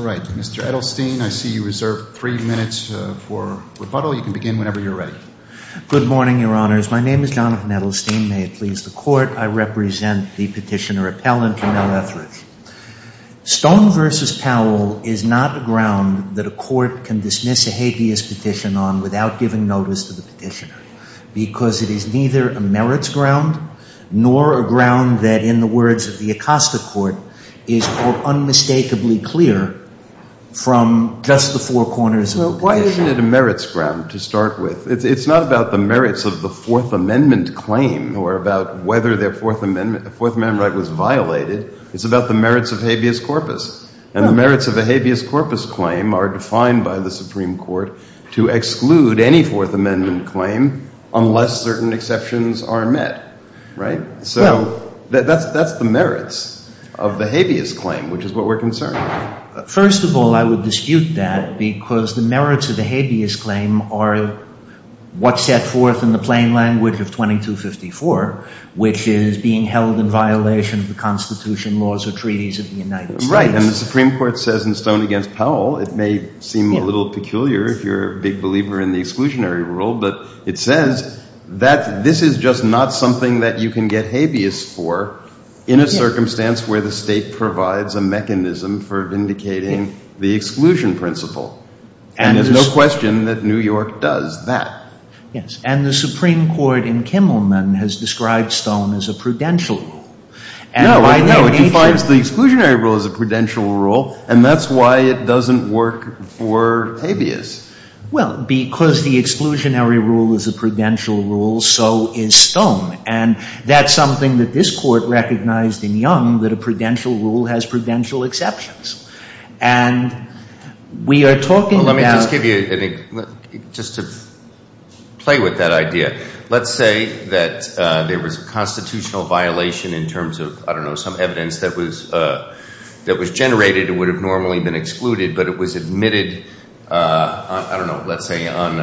All right, Mr. Edelstein, I see you reserve three minutes for rebuttal. You can begin whenever you're ready. Good morning, Your Honors. My name is Jonathan Edelstein. May it please the Court, I represent the petitioner Appellant Camille Etheridge. Stone v. Powell is not a ground that a court can dismiss a habeas petition on without giving notice to the petitioner because it is neither a merits ground nor a ground that, in the words of the Acosta Court, is, quote, unmistakably clear from just the four corners of the petition. Why isn't it a merits ground to start with? It's not about the merits of the Fourth Amendment claim or about whether their Fourth Amendment right was violated. It's about the merits of habeas corpus. And the merits of a habeas corpus claim are defined by the Supreme Court to exclude any Fourth Amendment claim unless certain exceptions are met, right? So that's the merits of the habeas claim, which is what we're concerned with. First of all, I would dispute that because the merits of the habeas claim are what's set forth in the plain language of 2254, which is being held in violation of the Constitution, laws, or treaties of the United States. Right. And the Supreme Court says in Stone v. Powell, it may seem a little peculiar if you're a big believer in the exclusionary rule, but it says that this is just not something that you can get habeas for in a circumstance where the state provides a mechanism for vindicating the exclusion principle. And there's no question that New England Kimmelman has described Stone as a prudential rule. No, it defines the exclusionary rule as a prudential rule, and that's why it doesn't work for habeas. Well, because the exclusionary rule is a prudential rule, so is Stone. And that's something that this Court recognized in Young, that a prudential rule has prudential exceptions. And we are going to say that there was a constitutional violation in terms of, I don't know, some evidence that was generated. It would have normally been excluded, but it was admitted on, I don't know, let's say on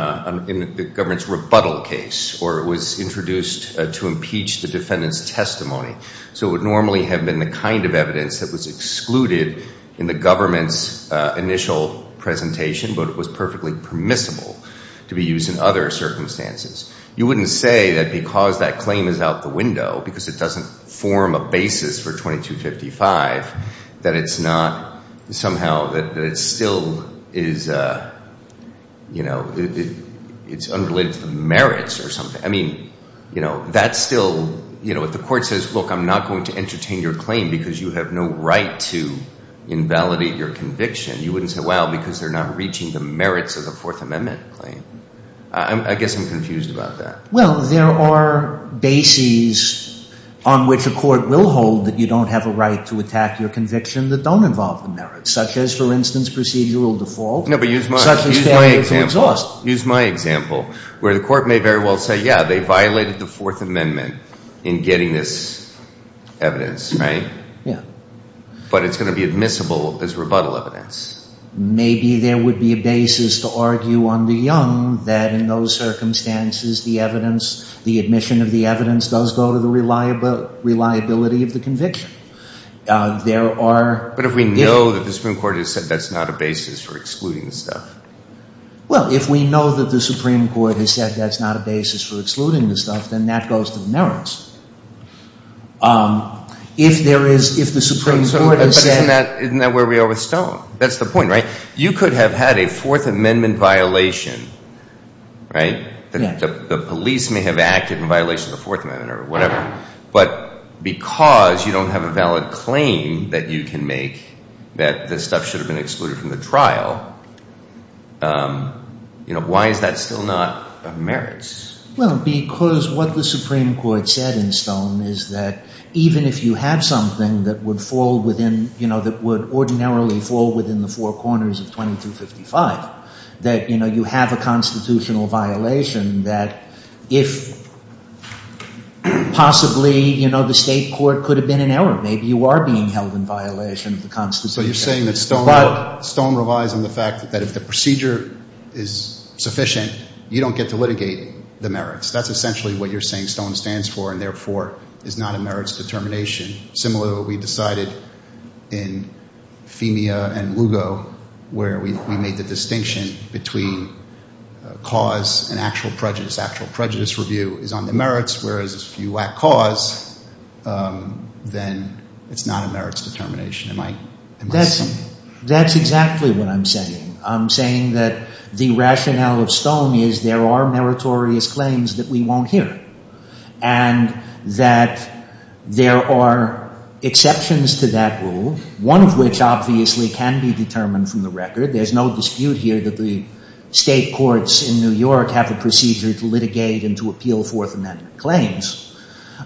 the government's rebuttal case, or it was introduced to impeach the defendant's testimony. So it would normally have been the kind of evidence that was excluded in the government's initial presentation, but it was perfectly permissible to be used in other circumstances. You wouldn't say that because that claim is out the window, because it doesn't form a basis for 2255, that it's not somehow, that it still is, you know, it's unrelated to the merits or something. I mean, you know, that's still, you know, if the Court says, look, I'm not going to entertain your claim because you have no right to invalidate your conviction, you wouldn't say, well, because they're not reaching the I guess I'm confused about that. Well, there are bases on which a court will hold that you don't have a right to attack your conviction that don't involve the merits, such as, for instance, procedural default. No, but use my example. Use my example, where the Court may very well say, yeah, they violated the Fourth Amendment in getting this evidence, right? Yeah. But it's going to be admissible as rebuttal evidence. Maybe there would be a basis to argue under Young that in those circumstances, the evidence, the admission of the evidence does go to the reliability of the conviction. There are... But if we know that the Supreme Court has said that's not a basis for excluding the stuff? Well, if we know that the Supreme Court has said that's not a basis for excluding the stuff, then that goes to the merits. If there is, if the Supreme Court has said... Isn't that where we are with Stone? That's the point, right? You could have had a Fourth Amendment violation, right? The police may have acted in violation of the Fourth Amendment or whatever, but because you don't have a valid claim that you can make that the stuff should have been excluded from the trial, you know, why is that still not of merits? Well, because what the Supreme Court said in Stone is that even if you have something that would fall within, you know, that would ordinarily fall within the four corners of 2255, that, you know, you have a constitutional violation that if possibly, you know, the state court could have been in error. Maybe you are being held in violation of the Constitution. So you're saying that Stone relies on the fact that if the procedure is sufficient, you don't get to litigate the merits. That's essentially what you're saying Stone stands for and therefore is not a merits determination, similar to what we decided in Femia and Lugo where we made the distinction between cause and actual prejudice. Actual prejudice review is on the merits, whereas if you lack cause, then it's not a merits determination. Am I... That's exactly what I'm saying. I'm saying that the rationale of Stone is there are meritorious claims that we won't hear and that there are exceptions to that rule, one of which obviously can be determined from the record. There's no dispute here that the state courts in New York have a procedure to litigate and to appeal Fourth Amendment claims,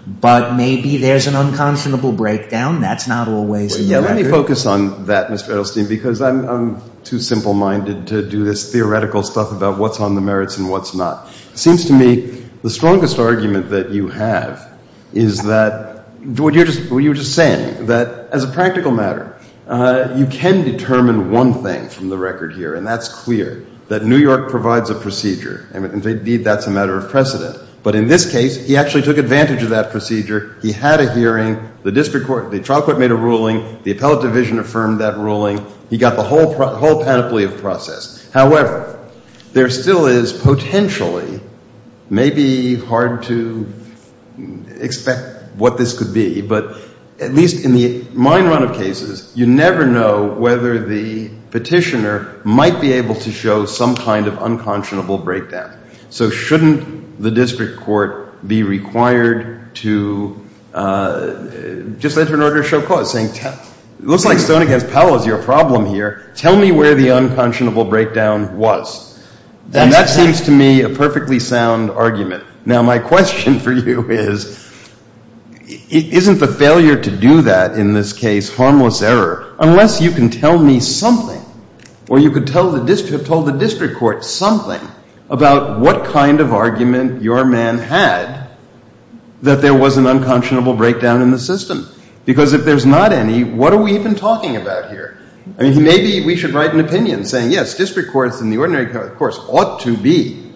but maybe there's an unconscionable breakdown. That's not always in the record. Let me focus on that, Mr. Edelstein, because I'm too simple-minded to do this theoretical stuff about what's on the merits and what's not. It seems to me the strongest argument that you have is that what you were just saying, that as a practical matter, you can determine one thing from the record here and that's clear, that New York provides a procedure and indeed that's a matter of precedent. But in this case, he actually took advantage of that procedure. He had a hearing. The district court, the trial court made a ruling. The whole panoply of process. However, there still is potentially, maybe hard to expect what this could be, but at least in the mine run of cases, you never know whether the petitioner might be able to show some kind of unconscionable breakdown. So shouldn't the district court be required to just enter an order to show cause, saying it looks like Stone against Baker. Tell me where the unconscionable breakdown was. And that seems to me a perfectly sound argument. Now my question for you is, isn't the failure to do that in this case harmless error? Unless you can tell me something, or you could tell the district court something about what kind of argument your man had that there was an unconscionable breakdown in the system. Because if there's not any, what are we even talking about here? I mean, he may be, we should write an opinion saying, yes, district courts and the ordinary courts ought to be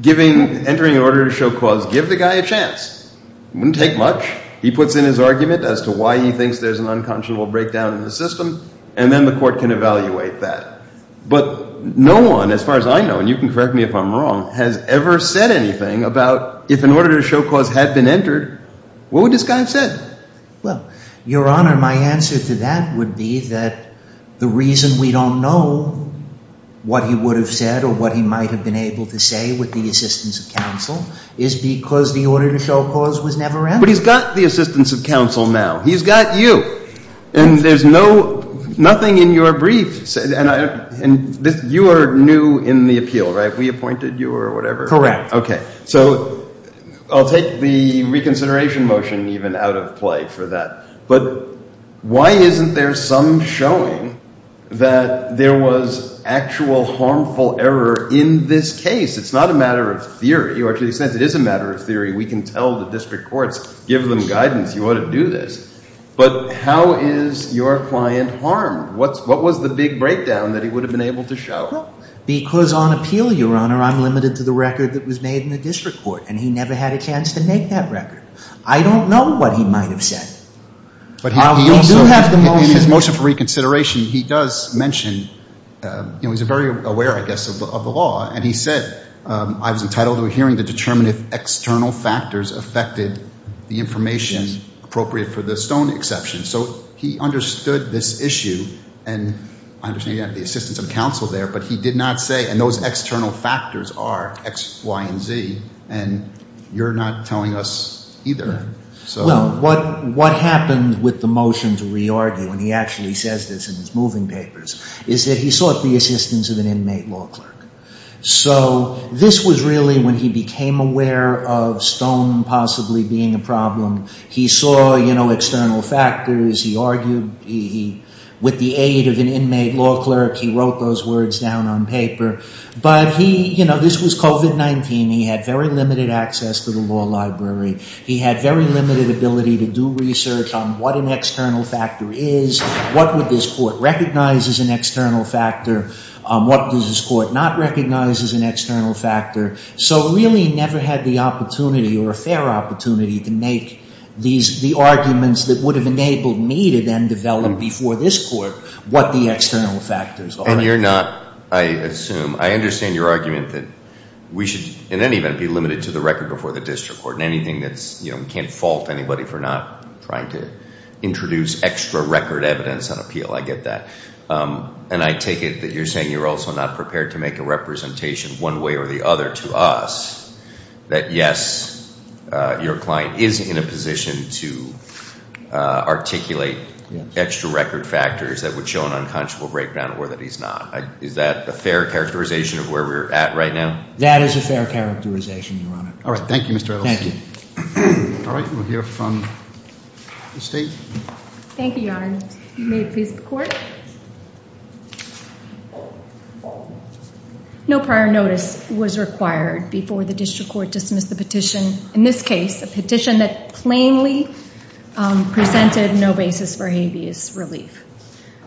giving, entering an order to show cause. Give the guy a chance. Wouldn't take much. He puts in his argument as to why he thinks there's an unconscionable breakdown in the system, and then the court can evaluate that. But no one, as far as I know, and you can correct me if I'm wrong, has ever said anything about if an order to show cause had been entered, what would this guy have said? Well, Your Honor, my answer to that would be that the reason we don't know what he would have said or what he might have been able to say with the assistance of counsel is because the order to show cause was never entered. But he's got the assistance of counsel now. He's got you. And there's no, nothing in your brief said, and you are new in the appeal, right? We appointed you or whatever. Correct. Okay. So I'll take the reconsideration motion even out of play for that. But why isn't there some showing that there was actual harmful error in this case? It's not a matter of theory, or to the extent it is a matter of theory, we can tell the district courts, give them guidance, you ought to do this. But how is your client harmed? What's, what was the big breakdown that he would have been able to show? Because on appeal, Your Honor, I'm limited to the record that was made in the district court, and he never had a chance to make that record. I don't know what he might have said. But he also, in his motion for reconsideration, he does mention, you know, he's very aware, I guess, of the law. And he said, I was entitled to a hearing to determine if external factors affected the information appropriate for the Stone exception. So he understood this issue, and I understand you have the assistance of our X, Y, and Z, and you're not telling us either. Well, what happened with the motion to re-argue, and he actually says this in his moving papers, is that he sought the assistance of an inmate law clerk. So this was really when he became aware of Stone possibly being a problem. He saw, you know, external factors, he argued, he, with the aid of an inmate law clerk, he, you know, this was COVID-19. He had very limited access to the law library. He had very limited ability to do research on what an external factor is, what would this court recognize as an external factor, what does this court not recognize as an external factor. So really never had the opportunity or a fair opportunity to make these, the arguments that would have enabled me to then develop before this court what the external factors are. And you're not, I assume, I understand your argument that we should in any event be limited to the record before the district court, and anything that's, you know, we can't fault anybody for not trying to introduce extra record evidence on appeal, I get that. And I take it that you're saying you're also not prepared to make a representation one way or the other to us that yes, your client is in a position to articulate extra record factors that would show an unconscionable breakdown or that he's not. Is that a fair characterization of where we're at right now? That is a fair characterization, Your Honor. All right. Thank you, Mr. Ellis. Thank you. All right. We'll hear from the State. Thank you, Your Honor. You may please report. No prior notice was required before the district court dismissed the petition. In this case, a petition that plainly presented no basis for habeas relief.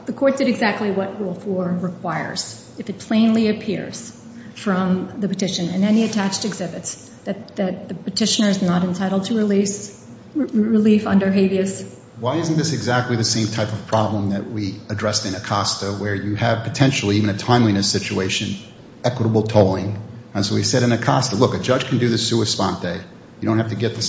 The court did exactly what Rule 4 requires. If it plainly appears from the petition and any attached exhibits that the petitioner is not entitled to release relief under habeas. Why isn't this exactly the same type of problem that we addressed in Acosta, where you have potentially, even a timeliness situation, equitable tolling? And so we said in Acosta, look, a judge can do the sua sponte. You don't have to get the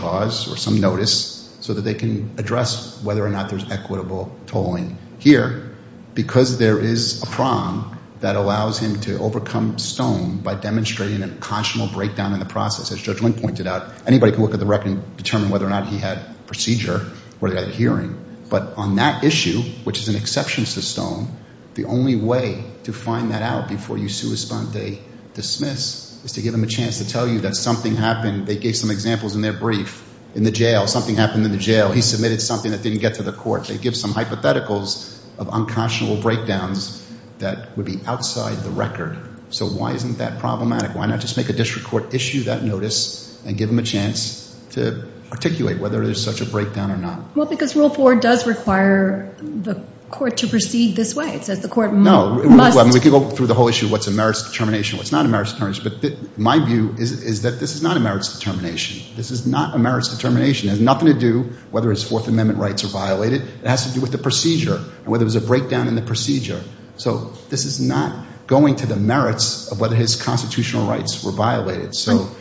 cause or some notice so that they can address whether or not there's equitable tolling here because there is a prong that allows him to overcome stone by demonstrating an unconscionable breakdown in the process. As Judge Link pointed out, anybody can look at the record and determine whether or not he had procedure or they had hearing. But on that issue, which is an exception to stone, the only way to find that out before you sua sponte dismiss is to give them a chance to tell you that something happened. They gave some examples in their brief. In the jail, something happened in the jail. He submitted something that didn't get to the court. They give some hypotheticals of unconscionable breakdowns that would be outside the record. So why isn't that problematic? Why not just make a district court issue that notice and give them a chance to articulate whether there's such a breakdown or not? Well, because Rule 4 does require the court to proceed this way. It says the court must No, we can go through the whole issue of what's a merits determination, what's not a merits determination, is that this is not a merits determination. This is not a merits determination. It has nothing to do whether his Fourth Amendment rights are violated. It has to do with the procedure and whether there was a breakdown in the procedure. So this is not going to the merits of whether his constitutional rights were violated.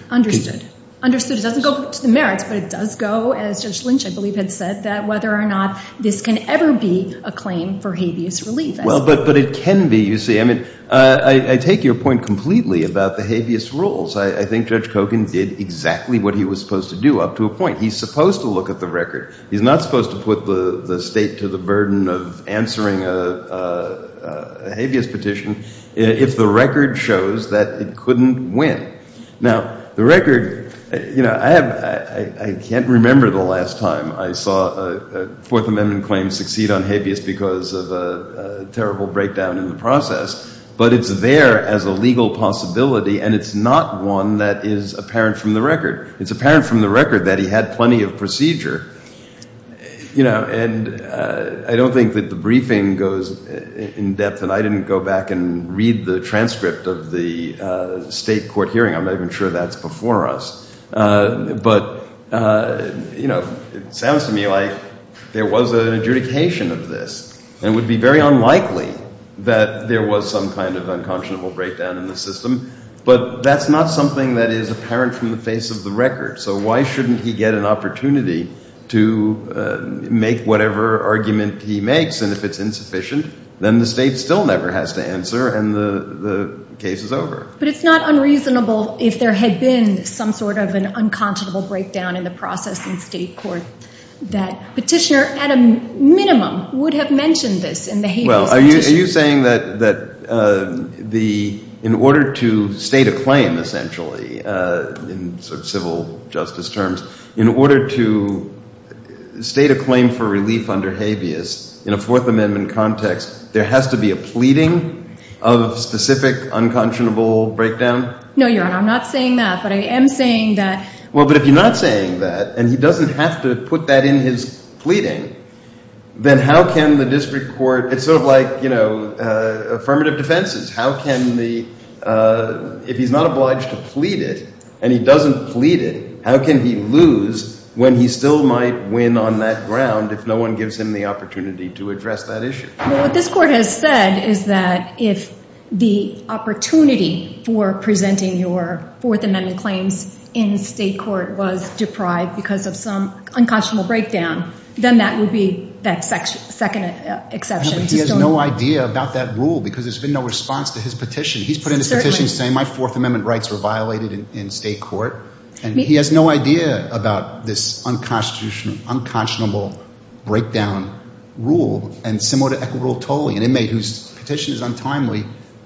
Understood. Understood. It doesn't go to the merits, but it does go, as Judge Lynch, I believe, had said, that whether or not this can ever be a claim for habeas relief. Well, but it can be, you see. I mean, I take your point completely about the habeas rules. I think Judge Kogan did exactly what he was supposed to do, up to a point. He's supposed to look at the record. He's not supposed to put the State to the burden of answering a habeas petition if the record shows that it couldn't win. Now, the record, you know, I can't remember the last time I saw a Fourth Amendment claim succeed on habeas because of a terrible breakdown in the process, but it's there as a legal possibility, and it's not one that is apparent from the record. It's apparent from the record that he had plenty of procedure. You know, and I don't think that the briefing goes in depth, and I didn't go back and read the transcript of the State court hearing. I'm not even sure that's before us. But, you know, it sounds to me like there was an adjudication of this, and it would be very unlikely that there was some kind of unconscionable breakdown in the system, but that's not something that is apparent from the face of the record. So why shouldn't he get an opportunity to make whatever argument he makes, and if it's insufficient, then the State still never has to answer, and the case is over. But it's not unreasonable if there had been some sort of an unconscionable breakdown in the process in State court that Petitioner, at a minimum, would have mentioned this in the habeas petition. Well, are you saying that in order to state a claim, essentially, in sort of civil justice terms, in order to state a claim for relief under habeas in a Fourth Amendment context, there has to be a pleading of specific unconscionable breakdown? No, Your Honor, I'm not saying that, but I am saying that... Well, but if you're not saying that, and he doesn't have to put that in his pleading, then how can the district court... It's sort of like, you know, affirmative defenses. How can the... If he's not obliged to plead it, and he doesn't plead it, how can he lose when he still might win on that ground if no one gives him the opportunity to address that issue? Well, what this court has said is that if the opportunity for presenting your Fourth Amendment claims in State court was deprived because of some unconscionable breakdown, then that would be the second exception to... Yeah, but he has no idea about that rule because there's been no response to his petition. He's put in his petition saying, my Fourth Amendment rights were violated in State court, and he has no idea about this unconstitutional, unconscionable breakdown rule. And similar to equitable tolling, an inmate whose petition is untimely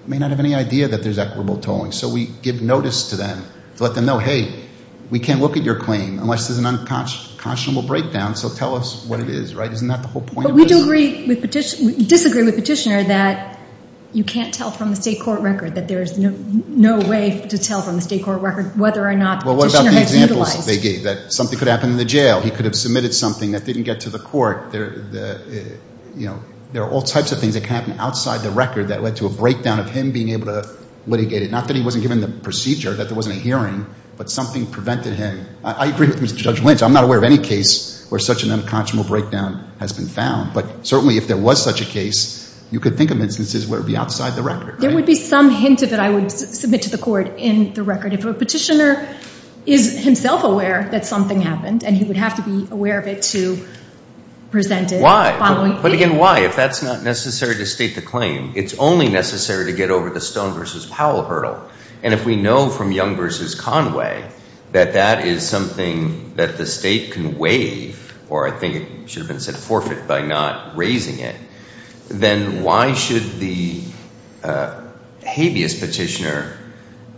may not have any idea that there's equitable tolling. So we give notice to them to let them know, hey, we can't look at your claim unless there's an unconscionable breakdown, so tell us what it is, right? Isn't that the whole point of this? But we disagree with Petitioner that you can't tell from the State court record, that there's no way to tell from the State court record whether or not Petitioner has utilized... Well, what about the examples they gave, that something could happen in the jail, he could happen outside the record that led to a breakdown of him being able to litigate it? Not that he wasn't given the procedure, that there wasn't a hearing, but something prevented him. I agree with Judge Lynch, I'm not aware of any case where such an unconscionable breakdown has been found. But certainly if there was such a case, you could think of instances where it would be outside the record, right? There would be some hint of it I would submit to the court in the record. If a Petitioner is himself aware that something happened, and he would have to be aware of it to present it... But again, why? If that's not necessary to state the claim, it's only necessary to get over the Stone v. Powell hurdle. And if we know from Young v. Conway that that is something that the State can waive, or I think it should have been said forfeit by not raising it, then why should the habeas Petitioner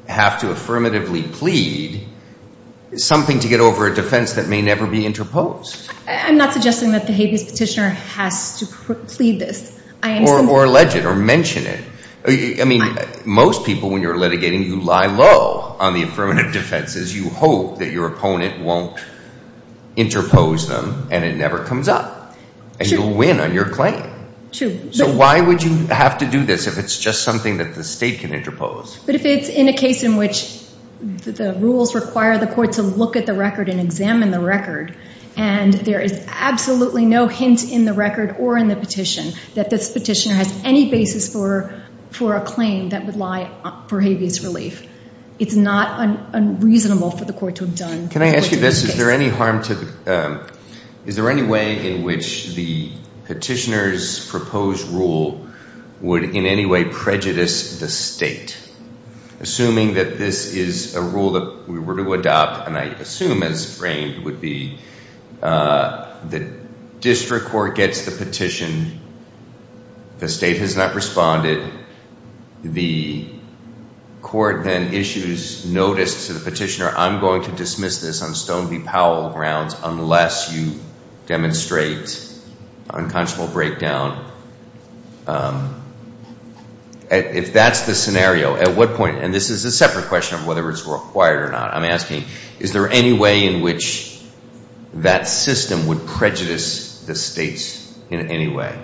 have to affirmatively plead something to get over a defense that may never be interposed? I'm not suggesting that the habeas Petitioner has to plead this. Or allege it or mention it. I mean, most people when you're litigating, you lie low on the affirmative defenses. You hope that your opponent won't interpose them, and it never comes up. And you'll win on your claim. True. So why would you have to do this if it's just something that the State can interpose? But if it's in a case in which the rules require the court to look at the record and examine the record, and there is absolutely no hint in the record or in the petition that this Petitioner has any basis for a claim that would lie for habeas relief, it's not unreasonable for the court to have done what's necessary. Can I ask you this? Is there any way in which the Petitioner's proposed rule would in any way prejudice the State? Assuming that this is a rule that we were to adopt, and I assume it's framed, would be the district court gets the petition, the State has not responded, the court then issues notice to the Petitioner, I'm going to dismiss this on Stone v. Powell grounds unless you demonstrate unconscionable breakdown. If that's the scenario, at what point, and this is a separate question of whether it's required or not, I'm asking, is there any way in which that system would prejudice the State in any way?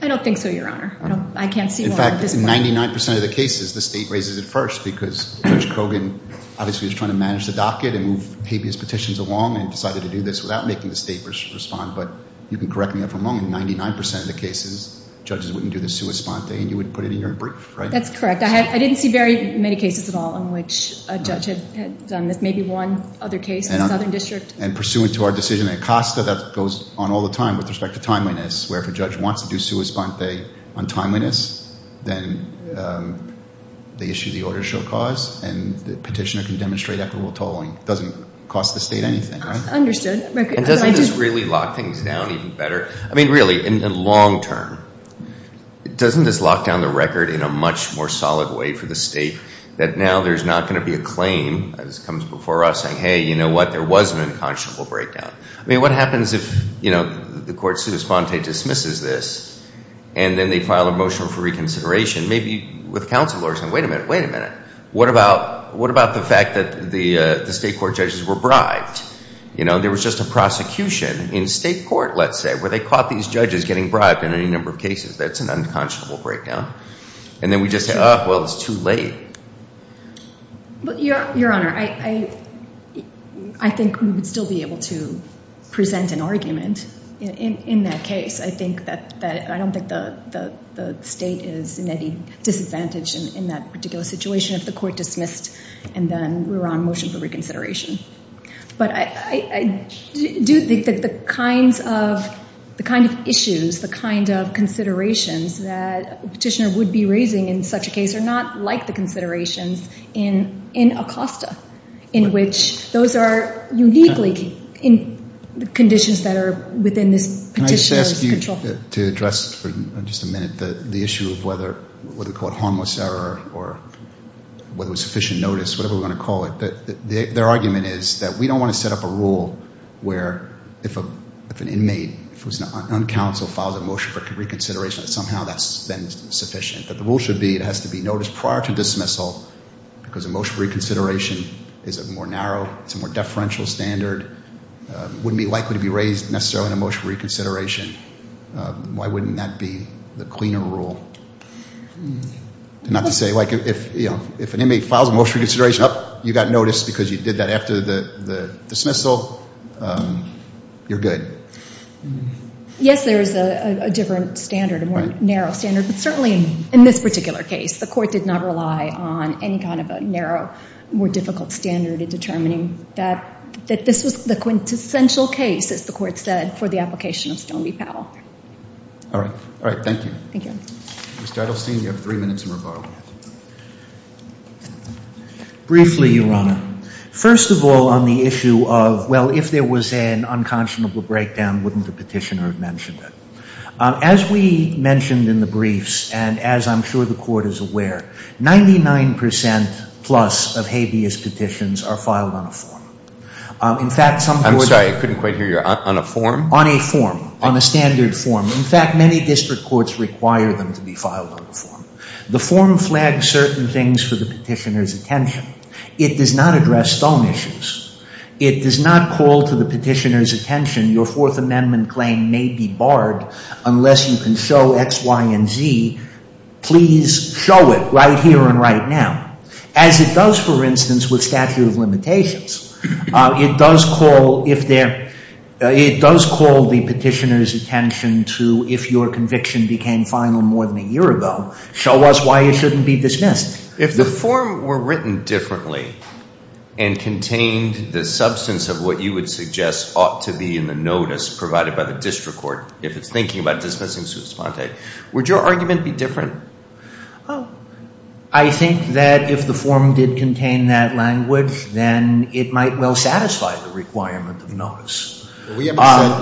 I don't think so, Your Honor. In fact, in 99% of the cases, the State raises it first because Judge Kogan obviously was trying to manage the docket and move habeas petitions along and decided to do this without making the State respond, but you can correct me if I'm wrong, in 99% of the cases, judges wouldn't do the sua sponte and you would put it in your brief, right? That's correct. I didn't see very many cases at all in which a judge had done this, maybe one other case in the Southern District. And pursuant to our decision in Acosta, that goes on all the time with respect to timeliness, where if a judge wants to do sua sponte on timeliness, then they issue the order to show cause and the Petitioner can demonstrate equitable tolling. It doesn't cost the State anything, right? Understood. And doesn't this really lock things down even better? I mean, really, in the long term, doesn't this lock down the record in a much more solid way for the State that now there's not going to be a claim that comes before us saying, hey, you know what? There was an unconscionable breakdown. I mean, what happens if, you know, the court sua sponte dismisses this and then they file a motion for reconsideration, maybe with counsel or something. Wait a minute, wait a minute. What about the fact that the State court judges were bribed? You know, there was just a prosecution in State court, let's say, where they caught these judges getting bribed in any number of cases. That's an unconscionable breakdown. And then we just say, oh, well, it's too late. Your Honor, I think we would still be able to present an argument in that case. I think that I don't think the State is in any disadvantage in that particular situation if the court dismissed and then we're on motion for reconsideration. But I do think that the kinds of issues, the kind of considerations that a petitioner would be raising in such a case are not like the considerations in Acosta, in which those are uniquely in the conditions that are within this petitioner's control. Can I just ask you to address for just a minute the issue of whether we call it harmless error or whether it was sufficient notice, whatever we want to call it. Their argument is that we don't want to set up a rule where if an inmate, if it was an uncounseled, filed a motion for reconsideration, that somehow that's then sufficient. That the rule should be it has to be noticed prior to dismissal because a motion for reconsideration is a more narrow, it's a more deferential standard, wouldn't be likely to be raised necessarily in a motion for reconsideration. Why wouldn't that be the cleaner rule? Not to say like if an inmate files a motion for reconsideration, oh, you got noticed because you did that after the dismissal, you're good. Yes, there is a different standard, a more narrow standard. But certainly in this particular case, the court did not rely on any kind of a narrow, more difficult standard in determining that this was the quintessential case, as the court said, for the application of Stone v. Powell. All right. All right, thank you. Thank you. Mr. Edelstein, you have three minutes in regard. Briefly, Your Honor. First of all, on the issue of, well, if there was an unconscionable breakdown, wouldn't the petitioner have mentioned it? As we mentioned in the briefs, and as I'm sure the court is aware, 99% plus of habeas petitions are filed on a form. In fact, some... I'm sorry, I couldn't quite hear you. On a form? On a form, on a standard form. In fact, many district courts require them to be filed on a form. The form flags certain things for the petitioner's attention. It does not address Stone issues. It does not call to the petitioner's attention, your Fourth Amendment claim may be barred unless you can show X, Y, and Z. Please show it right here and right now. As it does, for instance, with statute of limitations, it does call the petitioner's attention to, if your conviction became final more than a year ago, show us why it shouldn't be dismissed. If the form were written differently and contained the substance of what you would suggest ought to be in the notice provided by the district court if it's thinking about dismissing Sue Sponte, would your argument be different? I think that if the form did contain that language, then it might well satisfy the requirement of the notice. You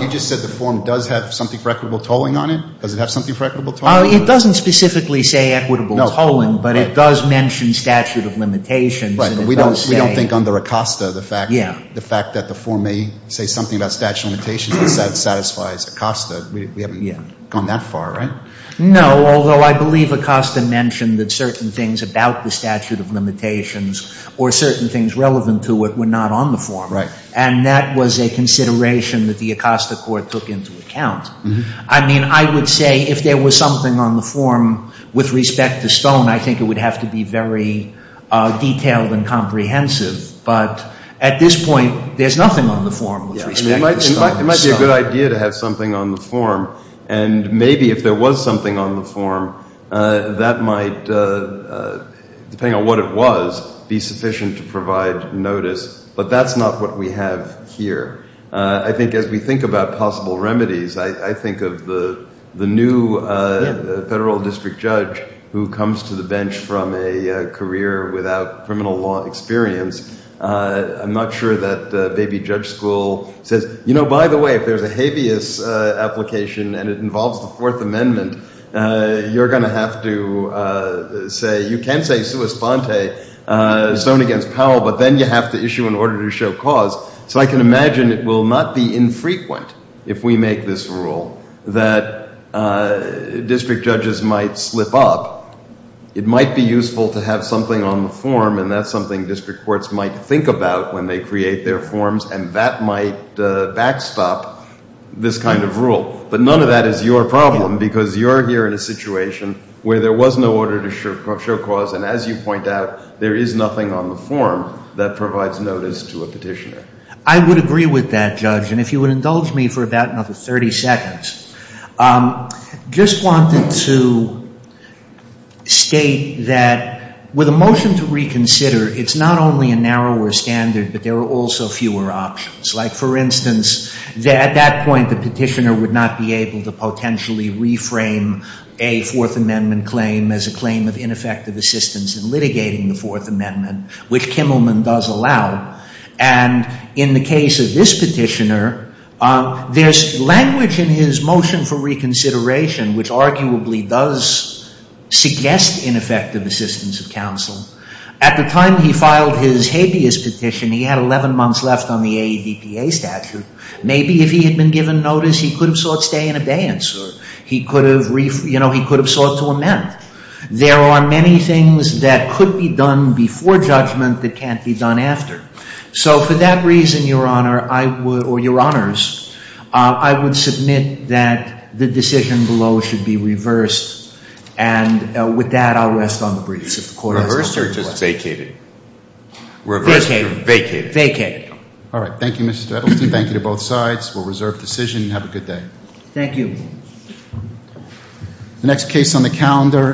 just said the form does have something for equitable tolling on it? Does it have something for equitable tolling? It doesn't specifically say equitable tolling, but it does mention statute of limitations. Right, but we don't think under ACOSTA the fact that the form may say something about statute of limitations satisfies ACOSTA. We haven't gone that far, right? No, although I believe ACOSTA mentioned that certain things about the statute of limitations or certain things relevant to it were not on the form. And that was a consideration that the ACOSTA court took into account. I mean, I would say if there was something on the form with respect to Stone I think it would have to be very detailed and comprehensive. But at this point there's nothing on the form with respect to Stone. It might be a good idea to have something on the form and maybe if there was something on the form that might, depending on what it was, be sufficient to provide notice. But that's not what we have here. I think as we think about possible remedies I think of the new federal district judge who comes to the bench from a career without criminal law experience. I'm not sure that baby judge school says, you know, by the way, if there's a habeas application and it involves the Fourth Amendment you're going to have to say, you can say sua sponte, Stone against Powell but then you have to issue an order to show cause. So I can imagine it will not be infrequent if we make this rule that district judges might slip up. It might be useful to have something on the form and that's something district courts might think about when they create their forms and that might backstop this kind of rule. But none of that is your problem because you're here in a situation where there was no order to show cause and as you point out there is nothing on the form that provides notice to a petitioner. I would agree with that judge and if you would indulge me for about another 30 seconds just wanted to state that with a motion to reconsider it's not only a narrower standard but there are also fewer options. Like for instance at that point the petitioner would not be able to potentially reframe a Fourth Amendment claim as a claim of ineffective assistance in litigating the Fourth Amendment which Kimmelman does allow and in the case of this petitioner there's language in his motion for reconsideration which arguably does suggest ineffective assistance of counsel. At the time he filed his habeas petition he had 11 months left on the AEDPA statute maybe if he had been given notice he could have sought stay in abeyance or he could have sought to amend. There are many things that could be done before judgment that can't be done after. So for that reason Your Honor or Your Honors I would submit that the decision below should be reversed and with that I'll rest on the briefs if the court has no further questions. Reversed or just vacated? Vacated. Vacated. Alright, thank you Mr. Edelstein thank you to both sides we'll reserve decision and have a good day. Thank you. The next case on the calendar